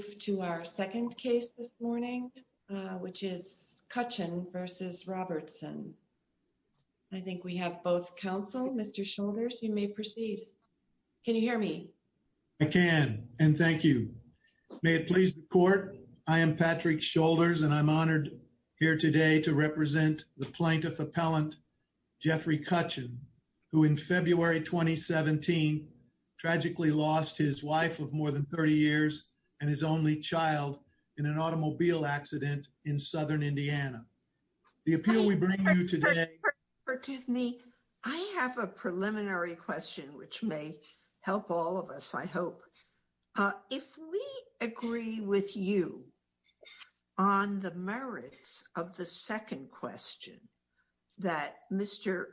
We will move to our second case this morning, which is Cutchin v. Robertson. I think we have both counsel. Mr. Shoulders, you may proceed. Can you hear me? I can. And thank you. May it please the court, I am Patrick Shoulders, and I'm honored here today to represent the plaintiff appellant Jeffrey Cutchin, who in February 2017 tragically lost his wife of more than 30 years and his only child in an automobile accident in southern Indiana. The appeal we bring you today... I have a preliminary question which may help all of us, I hope. If we agree with you on the merits of the second question that Mr.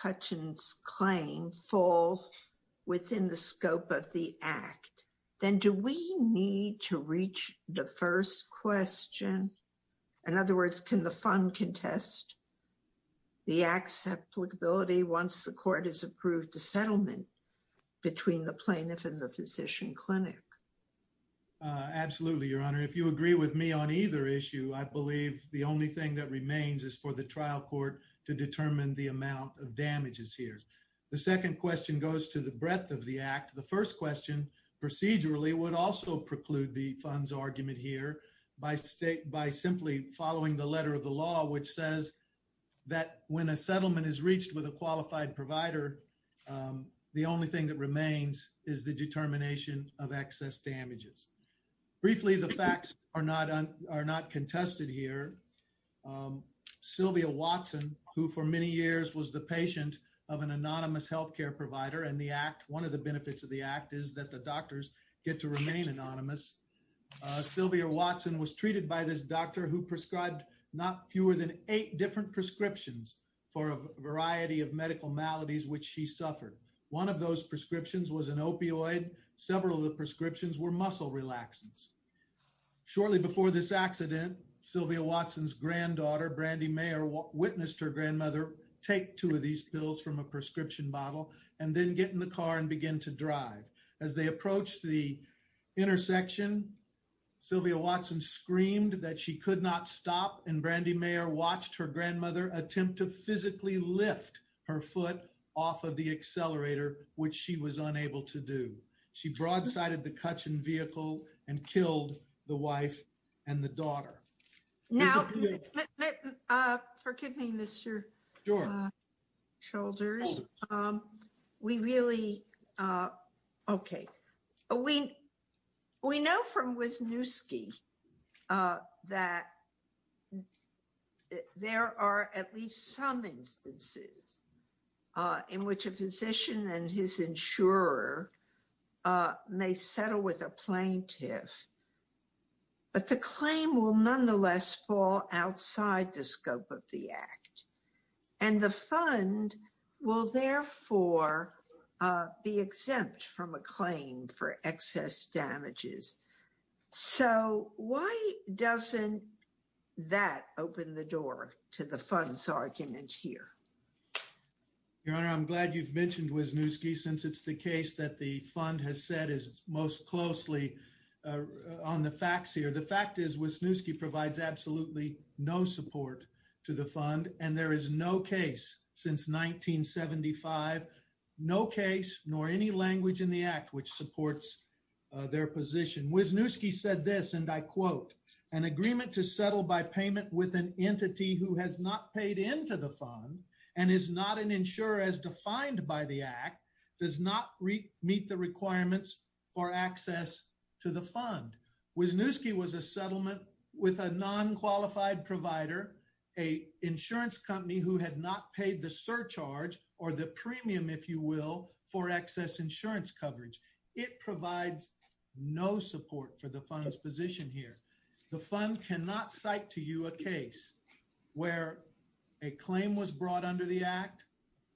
Cutchin's claim falls within the scope of the act, then do we need to reach the first question? In other words, can the fund contest the act's applicability once the court has approved the settlement between the plaintiff and the physician clinic? Absolutely, Your Honor. If you agree with me on either issue, I believe the only thing that remains is for the trial court to determine the amount of damages here. The second question goes to the breadth of the act. The first question, procedurally, would also preclude the fund's argument here by simply following the letter of the law which says that when a settlement is reached with a qualified provider, the only thing that remains is the determination of excess damages. Briefly, the facts are not contested here. Sylvia Watson, who for many years was the patient of an anonymous healthcare provider in the act, one of the benefits of the act is that the doctors get to remain anonymous. Sylvia Watson was treated by this doctor who prescribed not fewer than eight different prescriptions for a variety of medical maladies which she suffered. One of those prescriptions was an opioid. Several of the prescriptions were muscle relaxants. Shortly before this accident, Sylvia Watson's granddaughter Brandi Mayer witnessed her grandmother take two of these pills from a prescription bottle and then get in the car and begin to drive. As they approached the intersection, Sylvia Watson screamed that she could not stop and Brandi Mayer watched her grandmother attempt to physically lift her foot off of the accelerator which she was unable to do. She broadsided the action vehicle and killed the wife and the daughter. Now, forgive me, Mr. Shoulders. We really okay. We know from Wisniewski that there are at least some instances in which a physician and his insurer may settle with a plaintiff, but the claim will nonetheless fall outside the scope of the act and the fund will therefore be exempt from a claim for excess damages. So why doesn't that open the door to the fund's argument here? Your Honor, I'm glad you've mentioned Wisniewski since it's the case that the fund has said is most closely on the facts here. The fact is Wisniewski provides absolutely no support to the fund and there is no case since 1975. No case nor any language in the act which supports their position. Wisniewski said this and I quote, an agreement to settle by payment with an entity who has not paid into the fund and is not an insurer as defined by the act does not meet the requirements for access to the fund. Wisniewski was a settlement with a non-qualified provider, a insurance company who had not paid the surcharge or the premium, if you will, for excess insurance coverage. It provides no support for the fund's position here. The fund cannot cite to you a case where a claim was brought under the act,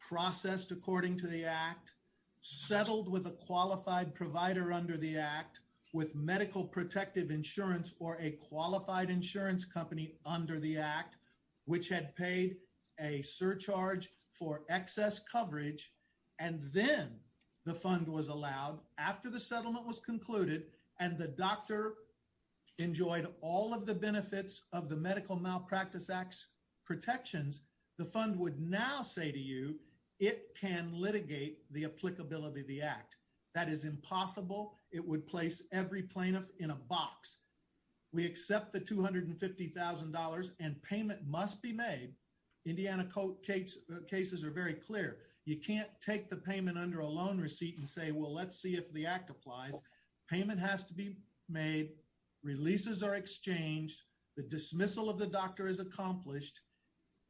processed according to the act, settled with a qualified provider under the act with medical protective insurance or a qualified insurance company under the act which had paid a surcharge for excess coverage and then the fund was allowed after the settlement was concluded and the doctor enjoyed all of the benefits of the protections, the fund would now say to you it can litigate the applicability of the act. That is impossible. It would place every plaintiff in a box. We accept the $250,000 and payment must be made. Indiana court cases are very clear. You can't take the payment under a loan receipt and say, well, let's see if the act applies. Payment has to be made. Releases are exchanged. The dismissal of the doctor is accomplished.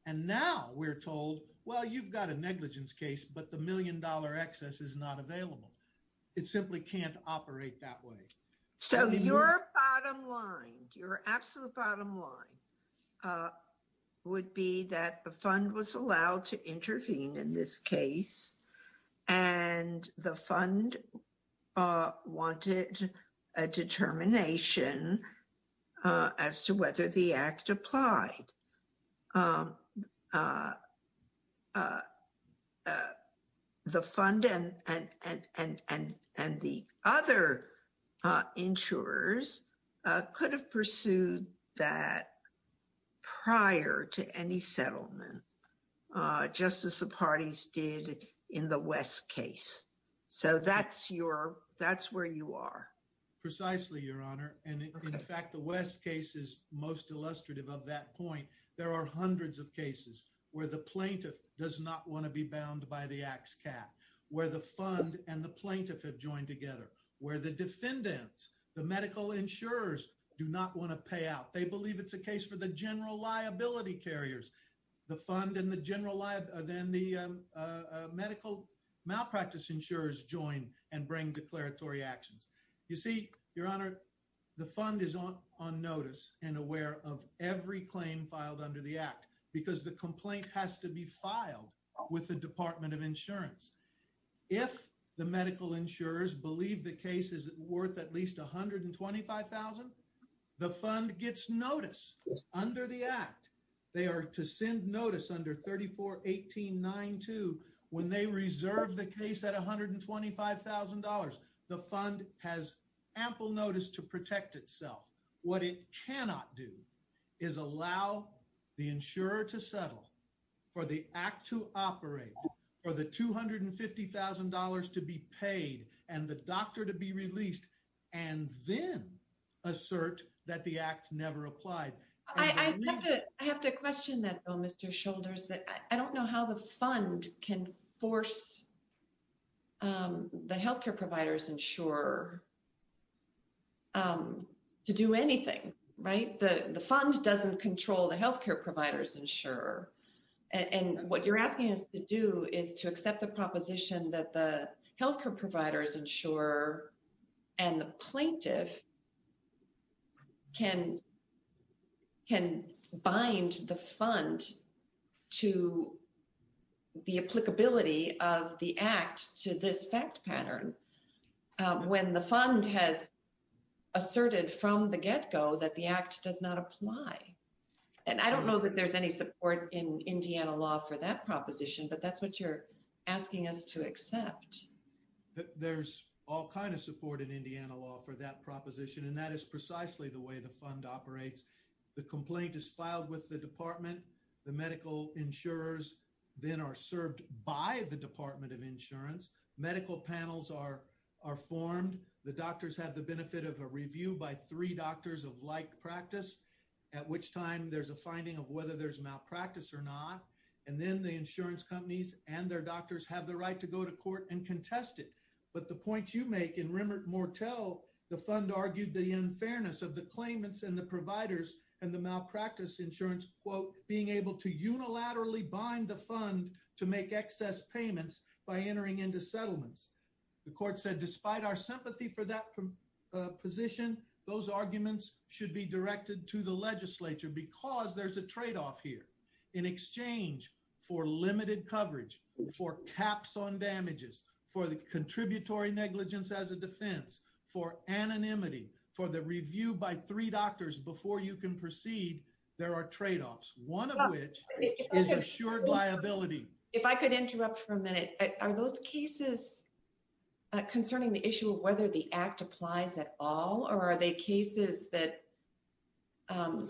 And now we're told, well, you've got a negligence case, but the million-dollar excess is not available. It simply can't operate that way. So your bottom line, your absolute bottom line would be that the fund was allowed to intervene in this case and the fund wanted a determination as to whether the act applied. The fund and the other insurers could have pursued that prior to any settlement just as the parties did in the West case. So that's where you are. Precisely, Your Honor. In fact, the West case is most illustrative of that point. There are hundreds of cases where the plaintiff does not want to be bound by the ax cap, where the fund and the plaintiff have joined together, where the defendants, the medical insurers do not want to pay out. They believe it's a case for the general liability carriers. The fund and the medical malpractice insurers join and you see, Your Honor, the fund is on notice and aware of every claim filed under the act because the complaint has to be filed with the Department of Insurance. If the medical insurers believe the case is worth at least $125,000, the fund gets notice under the act. They are to send notice under 34-18-9-2 when they reserve the case at $125,000. The fund has ample notice to protect itself. What it cannot do is allow the insurer to settle for the act to operate for the $250,000 to be paid and the doctor to be released and then assert that the act never applied. I have to question that, Mr. Shoulders. I don't know how the fund can force the healthcare providers insurer to do anything, right? The fund doesn't control the healthcare providers insurer and what you're asking us to do is to accept the proposition that the healthcare providers insurer and the plaintiff can bind the fund to the act to this fact pattern when the fund has asserted from the get-go that the act does not apply. And I don't know that there's any support in Indiana law for that proposition, but that's what you're asking us to accept. There's all kind of support in Indiana law for that proposition and that is precisely the way the fund operates. The complaint is filed with the department. The medical insurers then are served by the Department of Insurance. Medical panels are formed. The doctors have the benefit of a review by three doctors of like practice, at which time there's a finding of whether there's malpractice or not. And then the insurance companies and their doctors have the right to go to court and contest it. But the point you make in Remert-Mortel, the fund argued the unfairness of the claimants and the providers and the malpractice insurance, quote, being able to make excess payments by entering into settlements. The court said despite our sympathy for that position, those arguments should be directed to the legislature because there's a trade-off here. In exchange for limited coverage, for caps on damages, for the contributory negligence as a defense, for anonymity, for the review by three doctors before you can proceed, there are trade-offs, one of which is assured liability. If I could interrupt for a minute. Are those cases concerning the issue of whether the Act applies at all or are they cases that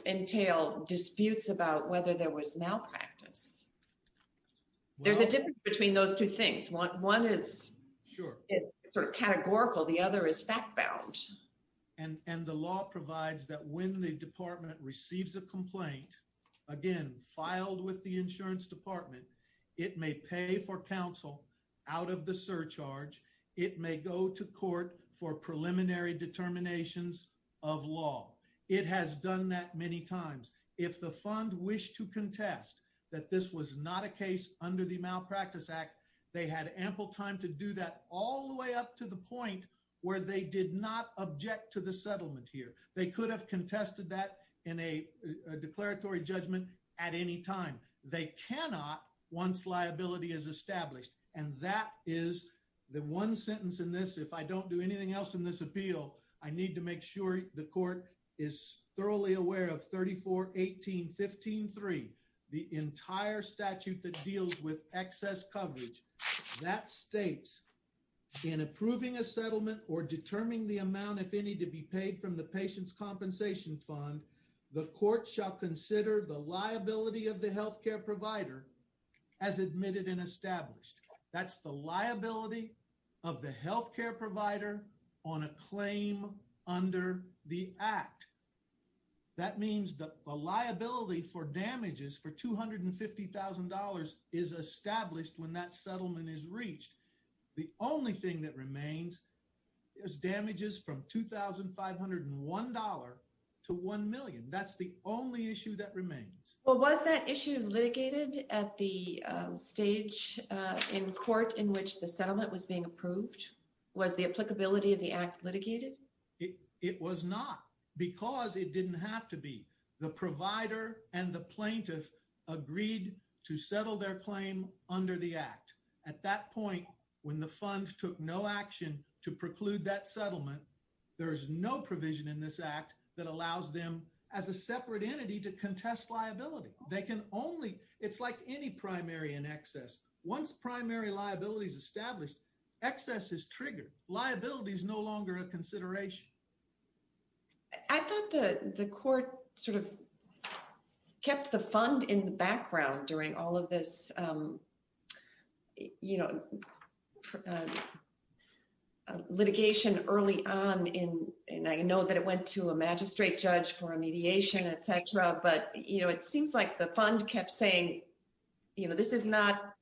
entail disputes about whether there was malpractice? There's a difference between those two things. One is sort of categorical. The other is fact-bound. And the law provides that when the department receives a complaint, again, filed with the insurance department, it may pay for counsel out of the surcharge. It may go to court for preliminary determinations of law. It has done that many times. If the fund wished to contest that this was not a case under the Malpractice Act, they had ample time to do that all the way up to the point where they did not object to the settlement here. They could have contested that in a declaratory judgment at any time. They cannot once liability is established. And that is the one sentence in this. If I don't do anything else in this appeal, I need to make sure the court is thoroughly aware of 34-18-15-3, the entire statute that deals with excess coverage. That states in approving a settlement or determining the amount, if any, to be paid from the patient's compensation fund, the court shall consider the liability of the health care provider as admitted and established. That's the liability of the health care provider on a claim under the Act. That means the liability for damages for $250,000 is established when that settlement is reached. The only thing that remains is $2,501 to $1 million. That's the only issue that remains. Well, was that issue litigated at the stage in court in which the settlement was being approved? Was the applicability of the Act litigated? It was not, because it didn't have to be. The provider and the plaintiff agreed to settle their claim under the Act. At that point, when the funds took no action to preclude that settlement, there is no provision in this Act that allows them, as a separate entity, to contest liability. It's like any primary in excess. Once primary liability is established, excess is triggered. Liability is no longer a consideration. I thought the court sort of kept the fund in the background during all of this litigation early on. I know that it went to a magistrate judge for a mediation, etc. It seems like the fund kept saying this is not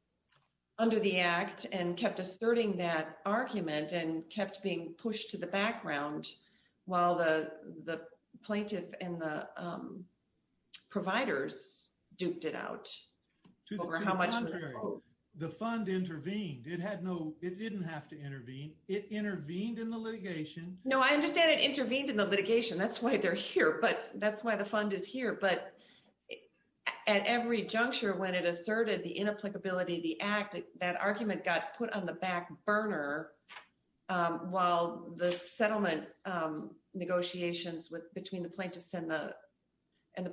under the Act and kept asserting that argument and kept being pushed to the background while the plaintiff and the providers duped it out over how much it was worth. On the contrary, the fund intervened. It didn't have to intervene. It intervened in the litigation. I understand it intervened in the litigation. That's why the fund is here. At every juncture, when it asserted the inapplicability of the Act, that argument got put on the back burner while the settlement negotiations between the plaintiffs and the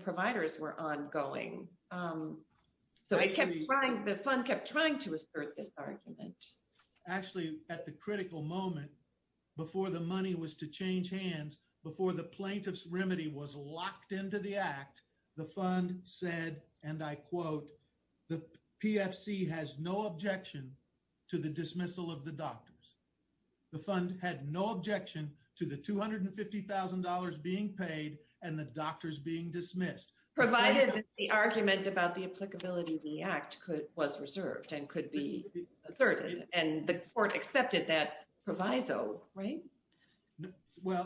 providers were ongoing. The fund kept trying to assert this argument. Actually, at the critical moment, before the money was to change hands, before the plaintiff's remedy was locked into the Act, the fund said, and I quote, the PFC has no objection to the dismissal of the doctors. The fund had no objection to the $250,000 being paid and the doctors being dismissed. Provided that the argument about the applicability of the Act was reserved and could be asserted and the court accepted that proviso, right?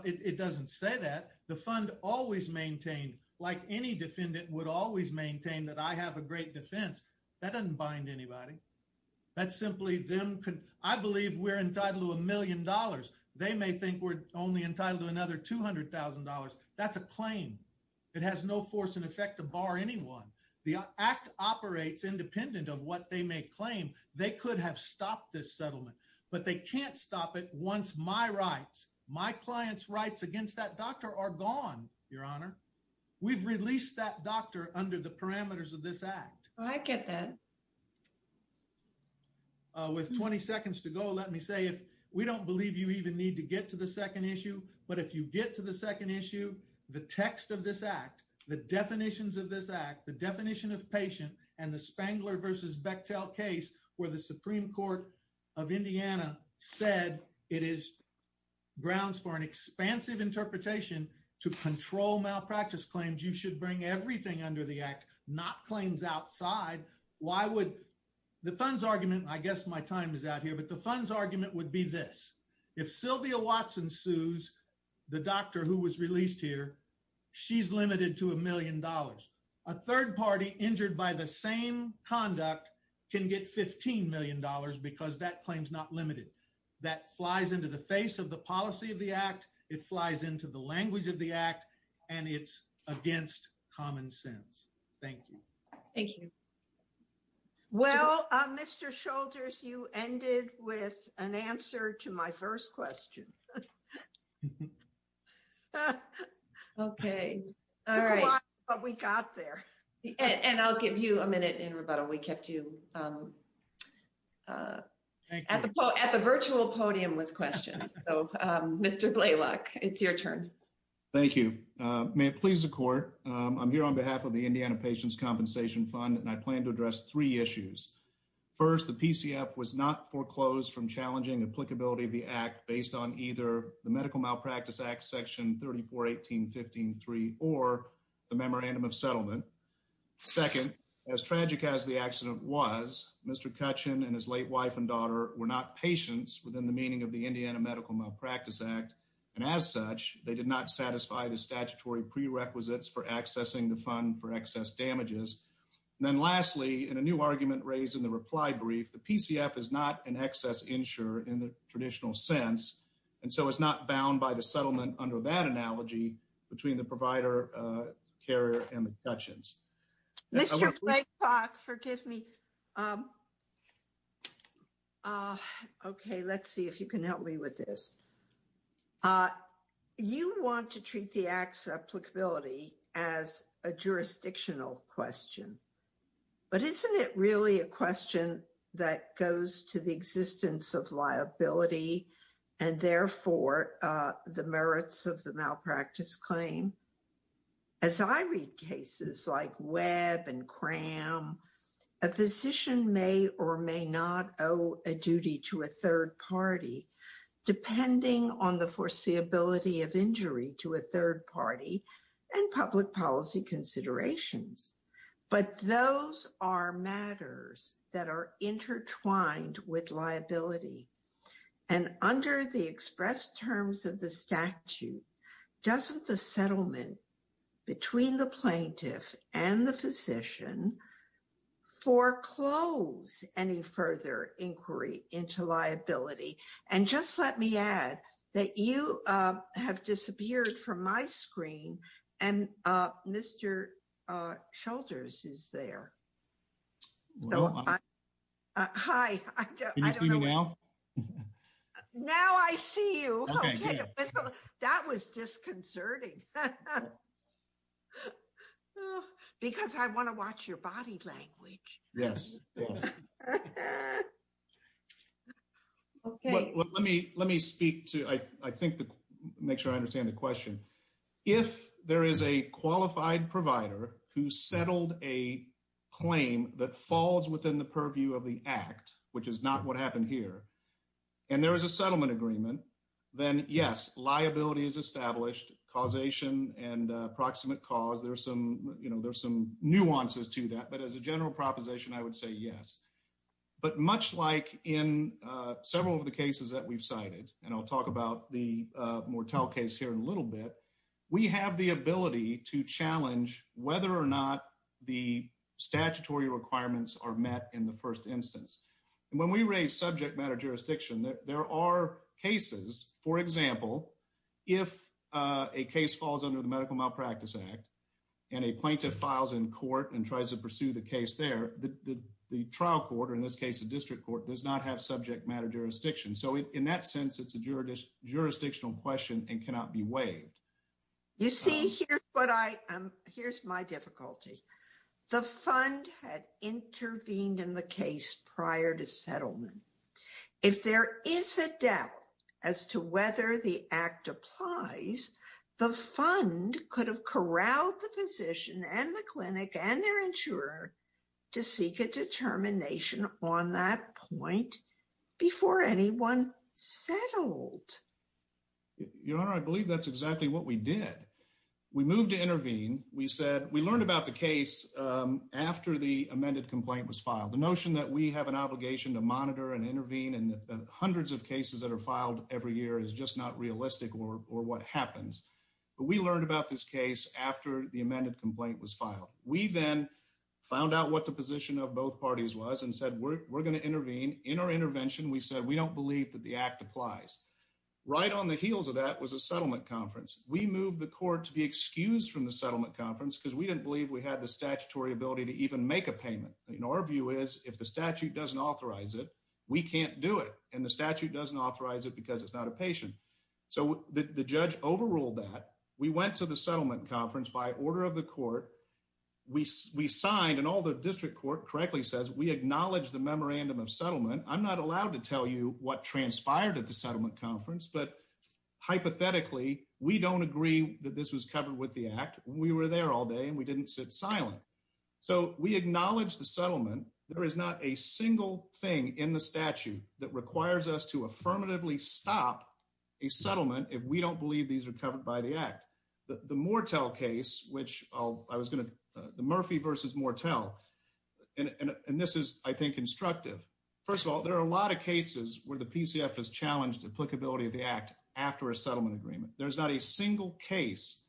It doesn't say that. The fund always maintained, like any defendant would always maintain, that I have a great defense. That doesn't bind anybody. I believe we're entitled to a million dollars. They may think we're only entitled to another $200,000. That's a claim. It has no force in effect to bar anyone. The Act operates independent of what they may claim. They could have stopped this settlement, but they can't stop it once my rights, my client's rights against that doctor are gone, Your Honor. We've released that doctor under the parameters of this Act. I get that. With 20 seconds to go, let me say, we don't believe you even need to get to the second issue, but if you get to the second issue, the text of this Act, the definitions of this Act, the definition of patient, and the Spangler v. Bechtel case where the Supreme Court of Indiana said it is grounds for an expansive interpretation to control malpractice claims, you should bring everything under the Act, not claims outside. The fund's argument, I guess my time is out here, but the fund's argument would be this. If Sylvia Watson sues the doctor who was released here, she's limited to a million dollars. A third party injured by the same conduct can get $15 million because that claim's not limited. That flies into the face of the policy of the Act. It flies into the language of the Act, and it's against common sense. Thank you. Well, Mr. Shoulders, you ended with an answer to my first question. Okay. All right. And I'll give you a minute in rebuttal. We kept you at the virtual podium with questions. Mr. Blalock, it's your turn. Thank you. May it please the Court, I'm here on behalf of the Indiana Patients' Compensation Fund, and I plan to address three issues. First, the PCF was not foreclosed from challenging applicability of the Act based on either the Medical Malpractice Act Section 34-18-15-3 or the Memorandum of Settlement. Second, as tragic as the accident was, Mr. Kutchin and his late wife and daughter were not patients within the meaning of the Indiana Medical Malpractice Act, and as such, they did not satisfy the statutory prerequisites for accessing the fund for excess damages. And then lastly, in a new argument raised in the reply brief, the PCF is not an excess insurer in the traditional sense, and so it's not bound by the settlement under that analogy between the provider carrier and the Kutchins. Okay. Let's see if you can help me with this. You want to treat the Act's applicability as a jurisdictional question, but isn't it really a question that goes to the existence of liability and therefore the merits of the malpractice claim? As I read cases like Webb and Cram, a physician may or may not owe a duty to a third party depending on the foreseeability of injury to a third party and public policy considerations, but those are matters that are intertwined with liability, and under the expressed terms of the statute, doesn't the settlement between the plaintiff and the physician foreclose any further inquiry into liability? And just let me add that you have disappeared from my screen, and Mr. Schultz is there. Now I see you. That was disconcerting. Because I want to watch your body language. Yes. Let me speak to, I think, to make sure I understand the question. If there is a qualified provider who settled a claim that falls within the purview of the Act, which is not what happened here, and there is a settlement agreement, then yes, liability is established, causation and proximate cause, there's some nuances to that, but as a general proposition, I would say yes. But much like in several of the cases that we've cited, and I'll talk about the Mortel case here in a little bit, we have the ability to challenge whether or not the statutory requirements are met in the first instance. When we raise subject matter jurisdiction, there are cases, for example, if a case falls under the Medical Malpractice Act and a plaintiff files in court and tries to pursue the case there, the trial court, or in this case the district court, does not have subject matter jurisdiction. So in that sense, it's a jurisdictional question and cannot be waived. You see, here's my difficulty. The fund had intervened in the case prior to settlement. If there is a doubt as to whether the Act applies, the fund could have corralled the physician and the clinic and their insurer to seek a determination on that point before anyone settled. Your Honor, I believe that's exactly what we did. We moved to intervene. We learned about the case after the amended complaint was filed. The notion that we have an obligation to monitor and intervene and the hundreds of cases that are filed every year is just not realistic or what happens. But we learned about this case after the amended complaint was filed. We then found out what the position of both parties was and said we're going to intervene. In our intervention, we said we don't believe that the Act applies. Right on the heels of that was a settlement conference. We moved the court to be excused from the settlement conference because we didn't believe we had the statutory ability to even make a payment. Our view is if the statute doesn't authorize it, we can't do it. And the statute doesn't authorize it because it's not a patient. So the judge overruled that. We went to the settlement conference by order of the court. We signed and all the district court correctly says we acknowledge the memorandum of settlement. I'm not allowed to tell you what transpired at the settlement conference, but hypothetically, we don't agree that this was covered with the Act. We were there all day and we didn't sit silent. So we acknowledge the settlement. There is not a single thing in the statute that requires us to affirmatively stop a settlement if we don't believe these are covered by the Act. The Mortel case, which I was going to Murphy v. Mortel, and this is I think constructive. First of all, there are a lot of cases where the PCF has challenged applicability of the Act after a settlement agreement. There's not a single case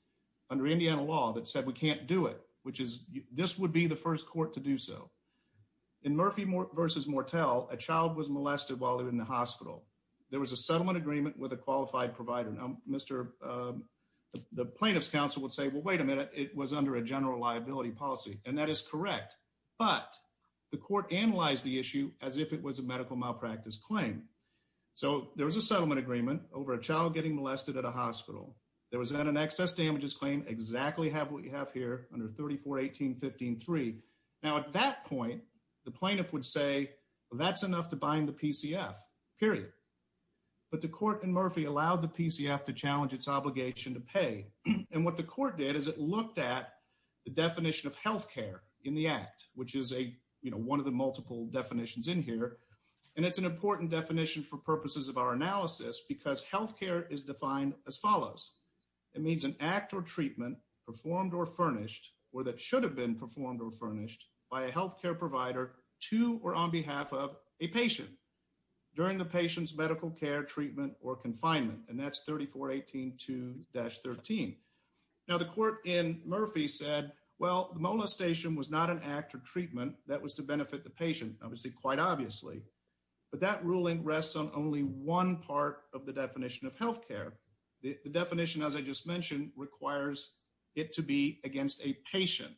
under Indiana law that said we can't do it, which is this would be the first court to do so. In Murphy v. Mortel, a child was molested while they were in the hospital. There was a settlement agreement with a qualified provider. The plaintiff's counsel would say, well, wait a minute, it was under a general liability policy. And that is correct. But the court analyzed the issue as if it was a medical malpractice claim. So there was a settlement agreement over a child getting molested at a hospital. There was then an excess damages claim, exactly what you have here under 34-18-15-3. Now at that point, the plaintiff would say, well, that's enough to bind the PCF. Period. But the court in Murphy allowed the PCF to challenge its obligation to pay. And what the court did is it looked at the definition of health care in the Act, which is one of the multiple definitions in here. And it's an important definition for purposes of our analysis because health care is defined as follows. It means an act or treatment performed or furnished or that should have been performed or furnished by a health care provider to or on behalf of a patient during the patient's medical care treatment or confinement. And that's 34-18-2-13. Now the court in Murphy said, well, the molestation was not an act or treatment that was to benefit the patient, obviously quite obviously. But that ruling rests on only one part of the definition of health care. The definition, as I just mentioned, requires it to be against a patient.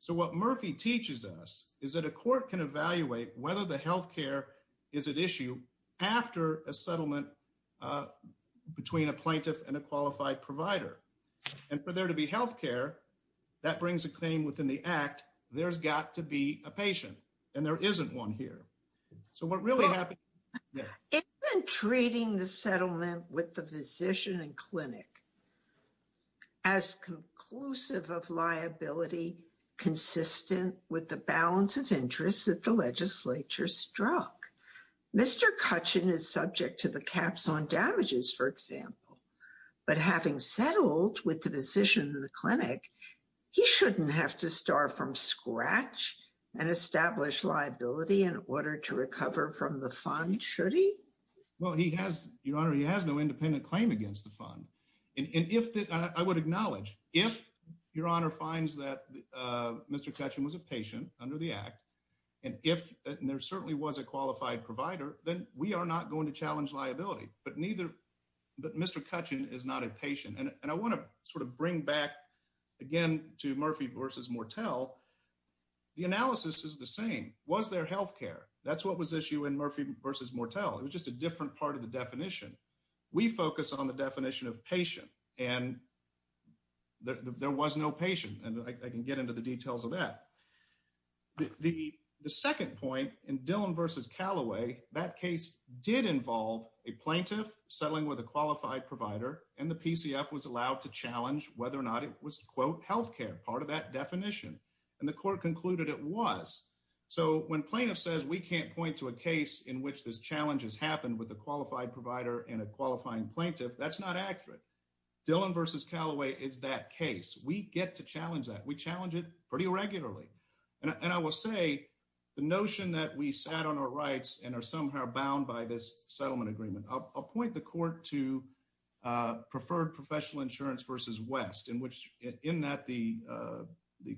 So what Murphy teaches us is that a court can evaluate whether the health care is at issue after a settlement between a plaintiff and a qualified provider. And for there to be health care, that brings a claim within the Act, there's got to be a patient. And there isn't one here. So we're really happy. Isn't treating the settlement with the physician and clinic as conclusive of liability consistent with the balance of interest that the legislature struck? Mr. Cutchin is subject to the caps on damages, for example. But having settled with the physician and the clinic, he shouldn't have to start from scratch and establish liability in order to recover from the fund, should he? Well, he has, Your Honor, he has no independent claim against the fund. And if that I would acknowledge if Your Honor finds that Mr. Cutchin was a patient under the Act, and if there certainly was a qualified provider, then we are not going to challenge liability. But neither Mr. Cutchin is not a patient. And I want to sort of bring back again to Murphy versus Mortel. The analysis is the same. Was there health care? That's what was issue in Murphy versus Mortel. It was just a different part of the definition. We focus on the definition of patient. And there was no patient. And I can get into the details of that. The second point in Dillon versus Callaway, that case did involve a plaintiff settling with a qualified provider. And the PCF was allowed to challenge whether or not it was, quote, health care, part of that definition. And the court concluded it was. So when plaintiff says we can't point to a case in which this challenge has happened with a qualified provider and a qualifying plaintiff, that's not accurate. Dillon versus Callaway is that case. We get to challenge that. We challenge it pretty regularly. And I will say the notion that we sat on our rights and are somehow bound by this settlement agreement. I'll point the court to preferred professional insurance versus West, in that the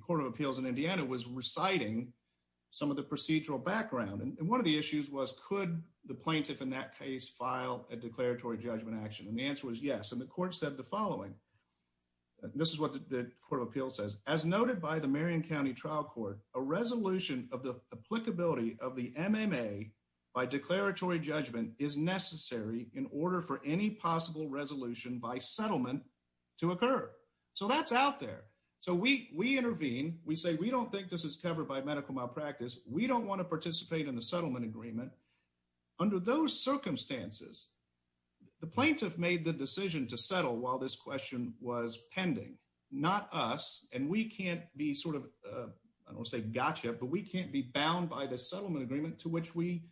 Court of Appeals in Indiana was reciting some of the procedural background. And one of the issues was could the plaintiff in that case file a declaratory judgment action? And the answer was yes. And the court said the following. This is what the Court of Appeals says. As noted by the Marion County Trial Court, a resolution of the applicability of the MMA by declaratory judgment is necessary in order for any possible resolution by settlement to occur. So that's out there. So we intervene. We say we don't think this is covered by medical malpractice. We don't want to participate in the settlement agreement. Under those circumstances, the plaintiff made the decision to settle while this question was pending. Not us. And we can't be sort of, I don't want to say gotcha, but we can't be bound by the settlement agreement to which we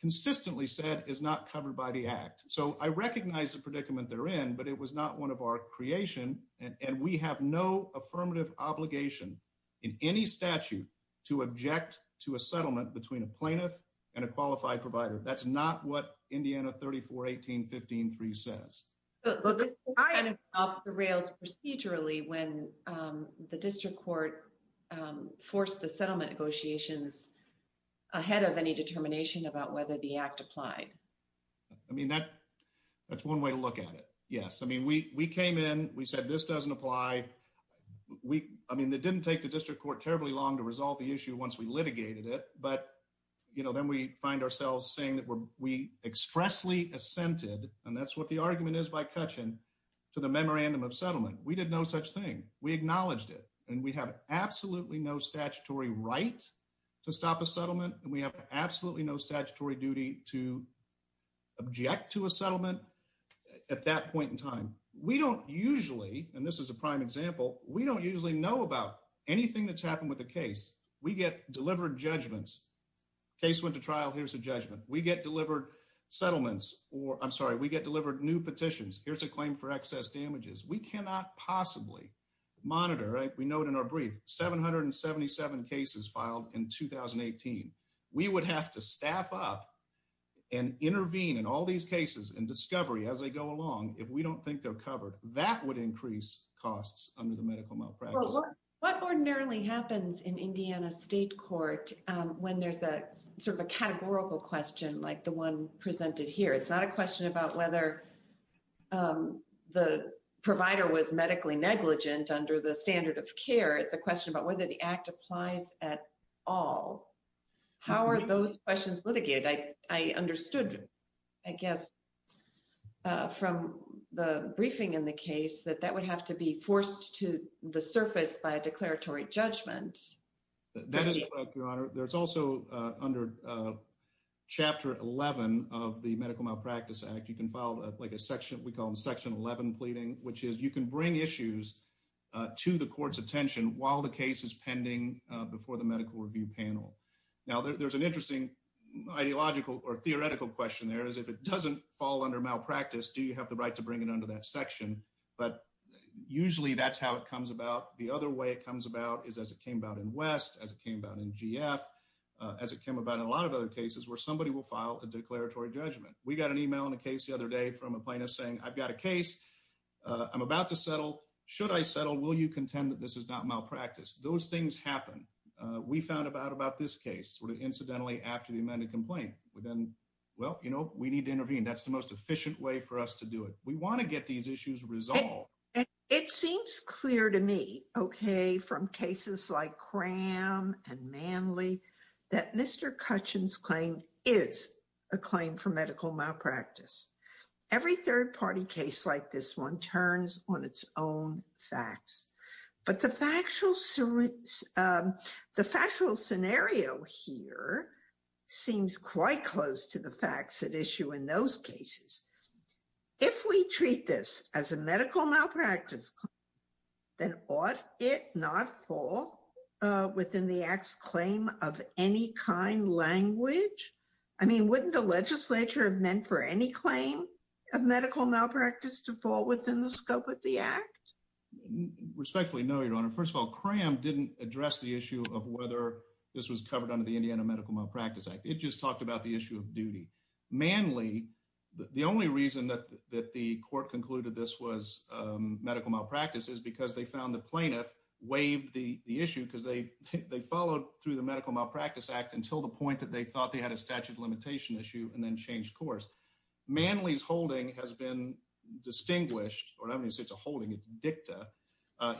consistently said is not covered by the Act. So I recognize the predicament therein, but it was not one of our creation. And we have no affirmative obligation in any statute to object to a settlement between a plaintiff and a qualified provider. That's not what Indiana 34-18-15-3 says. But the Court kind of derailed procedurally when the District Court forced the settlement negotiations ahead of any determination about whether the Act applied. I mean, that's one way to look at it. Yes. I mean, we came in. We said this doesn't apply. I mean, it didn't take the District Court terribly long to resolve the issue once we litigated it. But then we find ourselves saying that we expressly assented, and that's what the argument is by Kutchin, to the memorandum of settlement. We did no such thing. We acknowledged it. And we have absolutely no statutory right to stop a settlement. And we have absolutely no statutory duty to object to a settlement at that point in time. We don't usually, and this is a prime example, we don't usually know about anything that's happened with a case. We get delivered judgments. Case went to trial, here's a judgment. We get delivered settlements or, I'm sorry, we get delivered new petitions. Here's a claim for excess damages. We cannot possibly monitor, we note in our brief, 777 cases filed in 2018. We would have to staff up and intervene in all these cases and discovery as they go along if we don't think they're covered. That would increase costs under the medical malpractice. What ordinarily happens in Indiana State Court when there's a categorical question like the one presented here? It's not a question about whether the provider was medically negligent under the standard of care. It's a question about whether the act applies at all. How are those questions litigated? I understood, I guess, from the briefing in the case that that would have to be forced to the surface by a declaratory judgment. That is correct, Your Honor. There's also under Chapter 11 of the Medical Malpractice Act, you can file a section we call Section 11 pleading, which is you can bring issues to the court's attention while the case is pending before the medical review panel. Now, there's an interesting ideological or theoretical question there is if it doesn't fall under malpractice, do you have the right to bring it under that section? Usually, that's how it comes about. The other way it comes about is as it came about in West, as it came about in GF, as it came about in a lot of other cases where somebody will file a declaratory judgment. We got an email in a case the other day from a plaintiff saying, I've got a case. I'm about to settle. Should I settle? Will you contend that this is not malpractice? Those are the kinds of questions that we found out about this case incidentally after the amended complaint. Well, we need to intervene. That's the most efficient way for us to do it. We want to get these issues resolved. It seems clear to me from cases like Cram and Manly that Mr. Kutchin's claim is a claim for medical malpractice. Every third-party case like this one turns on its own facts. But the factual scenario here seems quite close to the facts at issue in those cases. If we treat this as a medical malpractice claim, then ought it not fall within the Act's claim of any kind language? I mean, wouldn't the legislature have meant for any claim of medical malpractice to fall within the scope of the Act? Respectfully, no, Your Honor. First of all, this was covered under the Indiana Medical Malpractice Act. It just talked about the issue of duty. Manly, the only reason that the court concluded this was medical malpractice is because they found the plaintiff waived the issue because they followed through the Medical Malpractice Act until the point that they thought they had a statute of limitation issue and then changed course. Manly's holding has been distinguished or I don't mean to say it's a holding, it's a dicta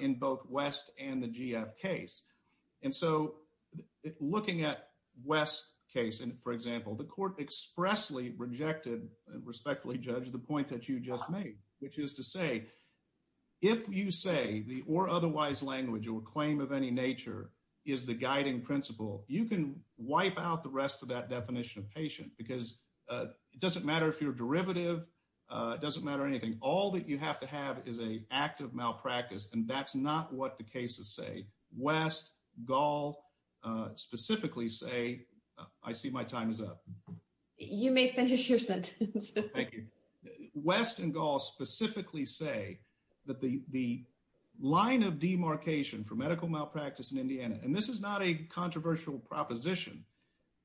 in both West and the West. Looking at West's case, for example, the court expressly rejected, respectfully, Judge, the point that you just made which is to say, if you say the or otherwise language or claim of any nature is the guiding principle, you can wipe out the rest of that definition of patient because it doesn't matter if you're derivative, it doesn't matter anything. All that you have to have is an act of malpractice and that's not what the cases say. West, Gall, specifically say I see my time is up. You may finish your sentence. Thank you. West and Gall specifically say that the line of demarcation for medical malpractice in Indiana and this is not a controversial proposition,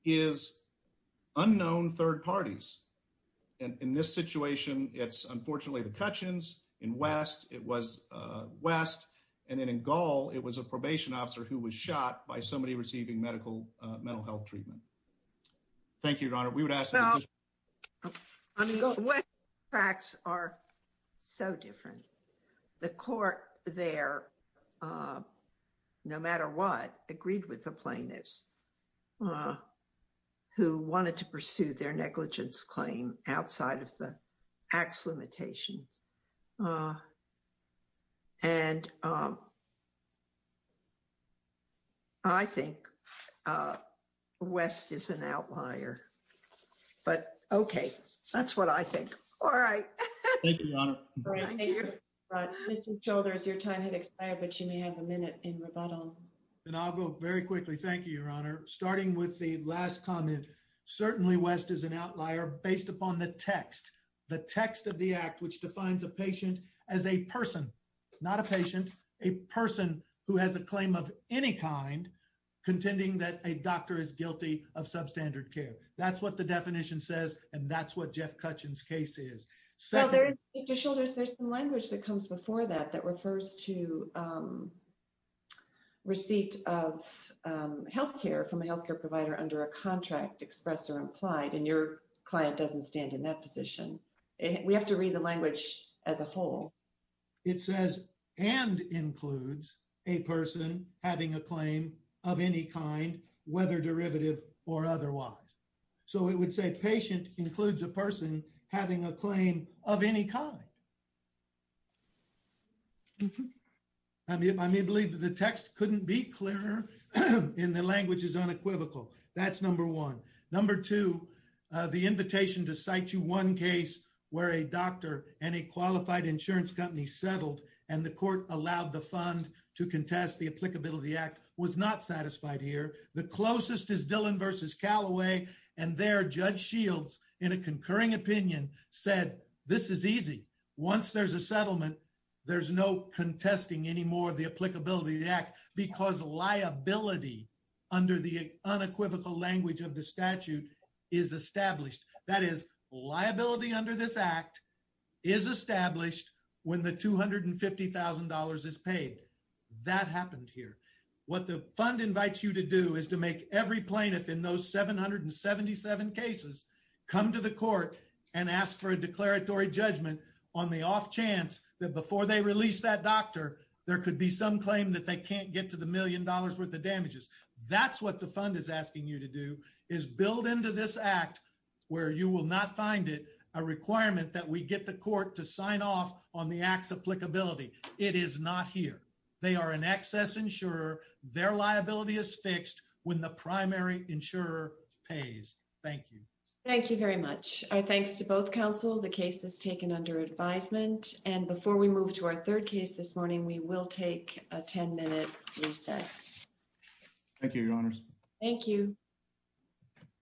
is unknown third parties. In this situation it's unfortunately the Cutchins, in West it was West and in Gall it was a probation officer who was shot by somebody receiving medical, mental health treatment. Thank you, Your Honor. We would ask Well, West facts are so different. The court there no matter what, agreed with the plaintiffs who wanted to pursue their negligence claim outside of the acts limitations and I think West is an outlier, but okay that's what I think. All right. Thank you, Your Honor. Mr. Childers, your time has expired, but you may have a minute in rebuttal. And I'll go very quickly. Thank you, Your Honor. Starting with the last comment, certainly West is an outlier based upon the text the text of the act which defines a patient as a person not a patient, a person who has a claim of any kind contending that a doctor is guilty of substandard care. That's what the definition says and that's what Jeff Cutchins' case is. There's some language that comes before that that refers to receipt of health care from a health care provider under a contract express or implied and your client doesn't stand in that position. We have to read the language as a whole. It says and includes a person having a claim of any kind whether derivative or otherwise. So it would say patient includes a person having a claim of any kind. I may believe that the text couldn't be clearer and the language is unequivocal. That's number one. Number two, the invitation to cite you one case where a doctor and a qualified insurance company settled and the court allowed the fund to contest the applicability act was not satisfied here. The closest is Dillon v. Callaway and there Judge Shields in a concurring opinion said this is easy. Once there's a settlement, there's no contesting anymore of the applicability of the act because liability under the unequivocal language of the statute is established. That is liability under this act is established when the $250,000 is paid. That happened here. What the fund invites you to do is to make every plaintiff in those 777 cases come to the court and ask for a declaratory judgment on the off chance that before they release that doctor, there could be some claim that they can't get to the million dollars worth of damages. That's what the fund is asking you to do is build into this act where you will not find it a requirement that we get the court to sign off on the acts applicability. It is not here. They are an excess insurer. Their liability is fixed when the primary insurer pays. Thank you. Thank you very much. Our thanks to both counsel. The case is taken under advisement and before we move to our third case this morning, we will take a 10-minute recess. Thank you, Your Honors. Thank you.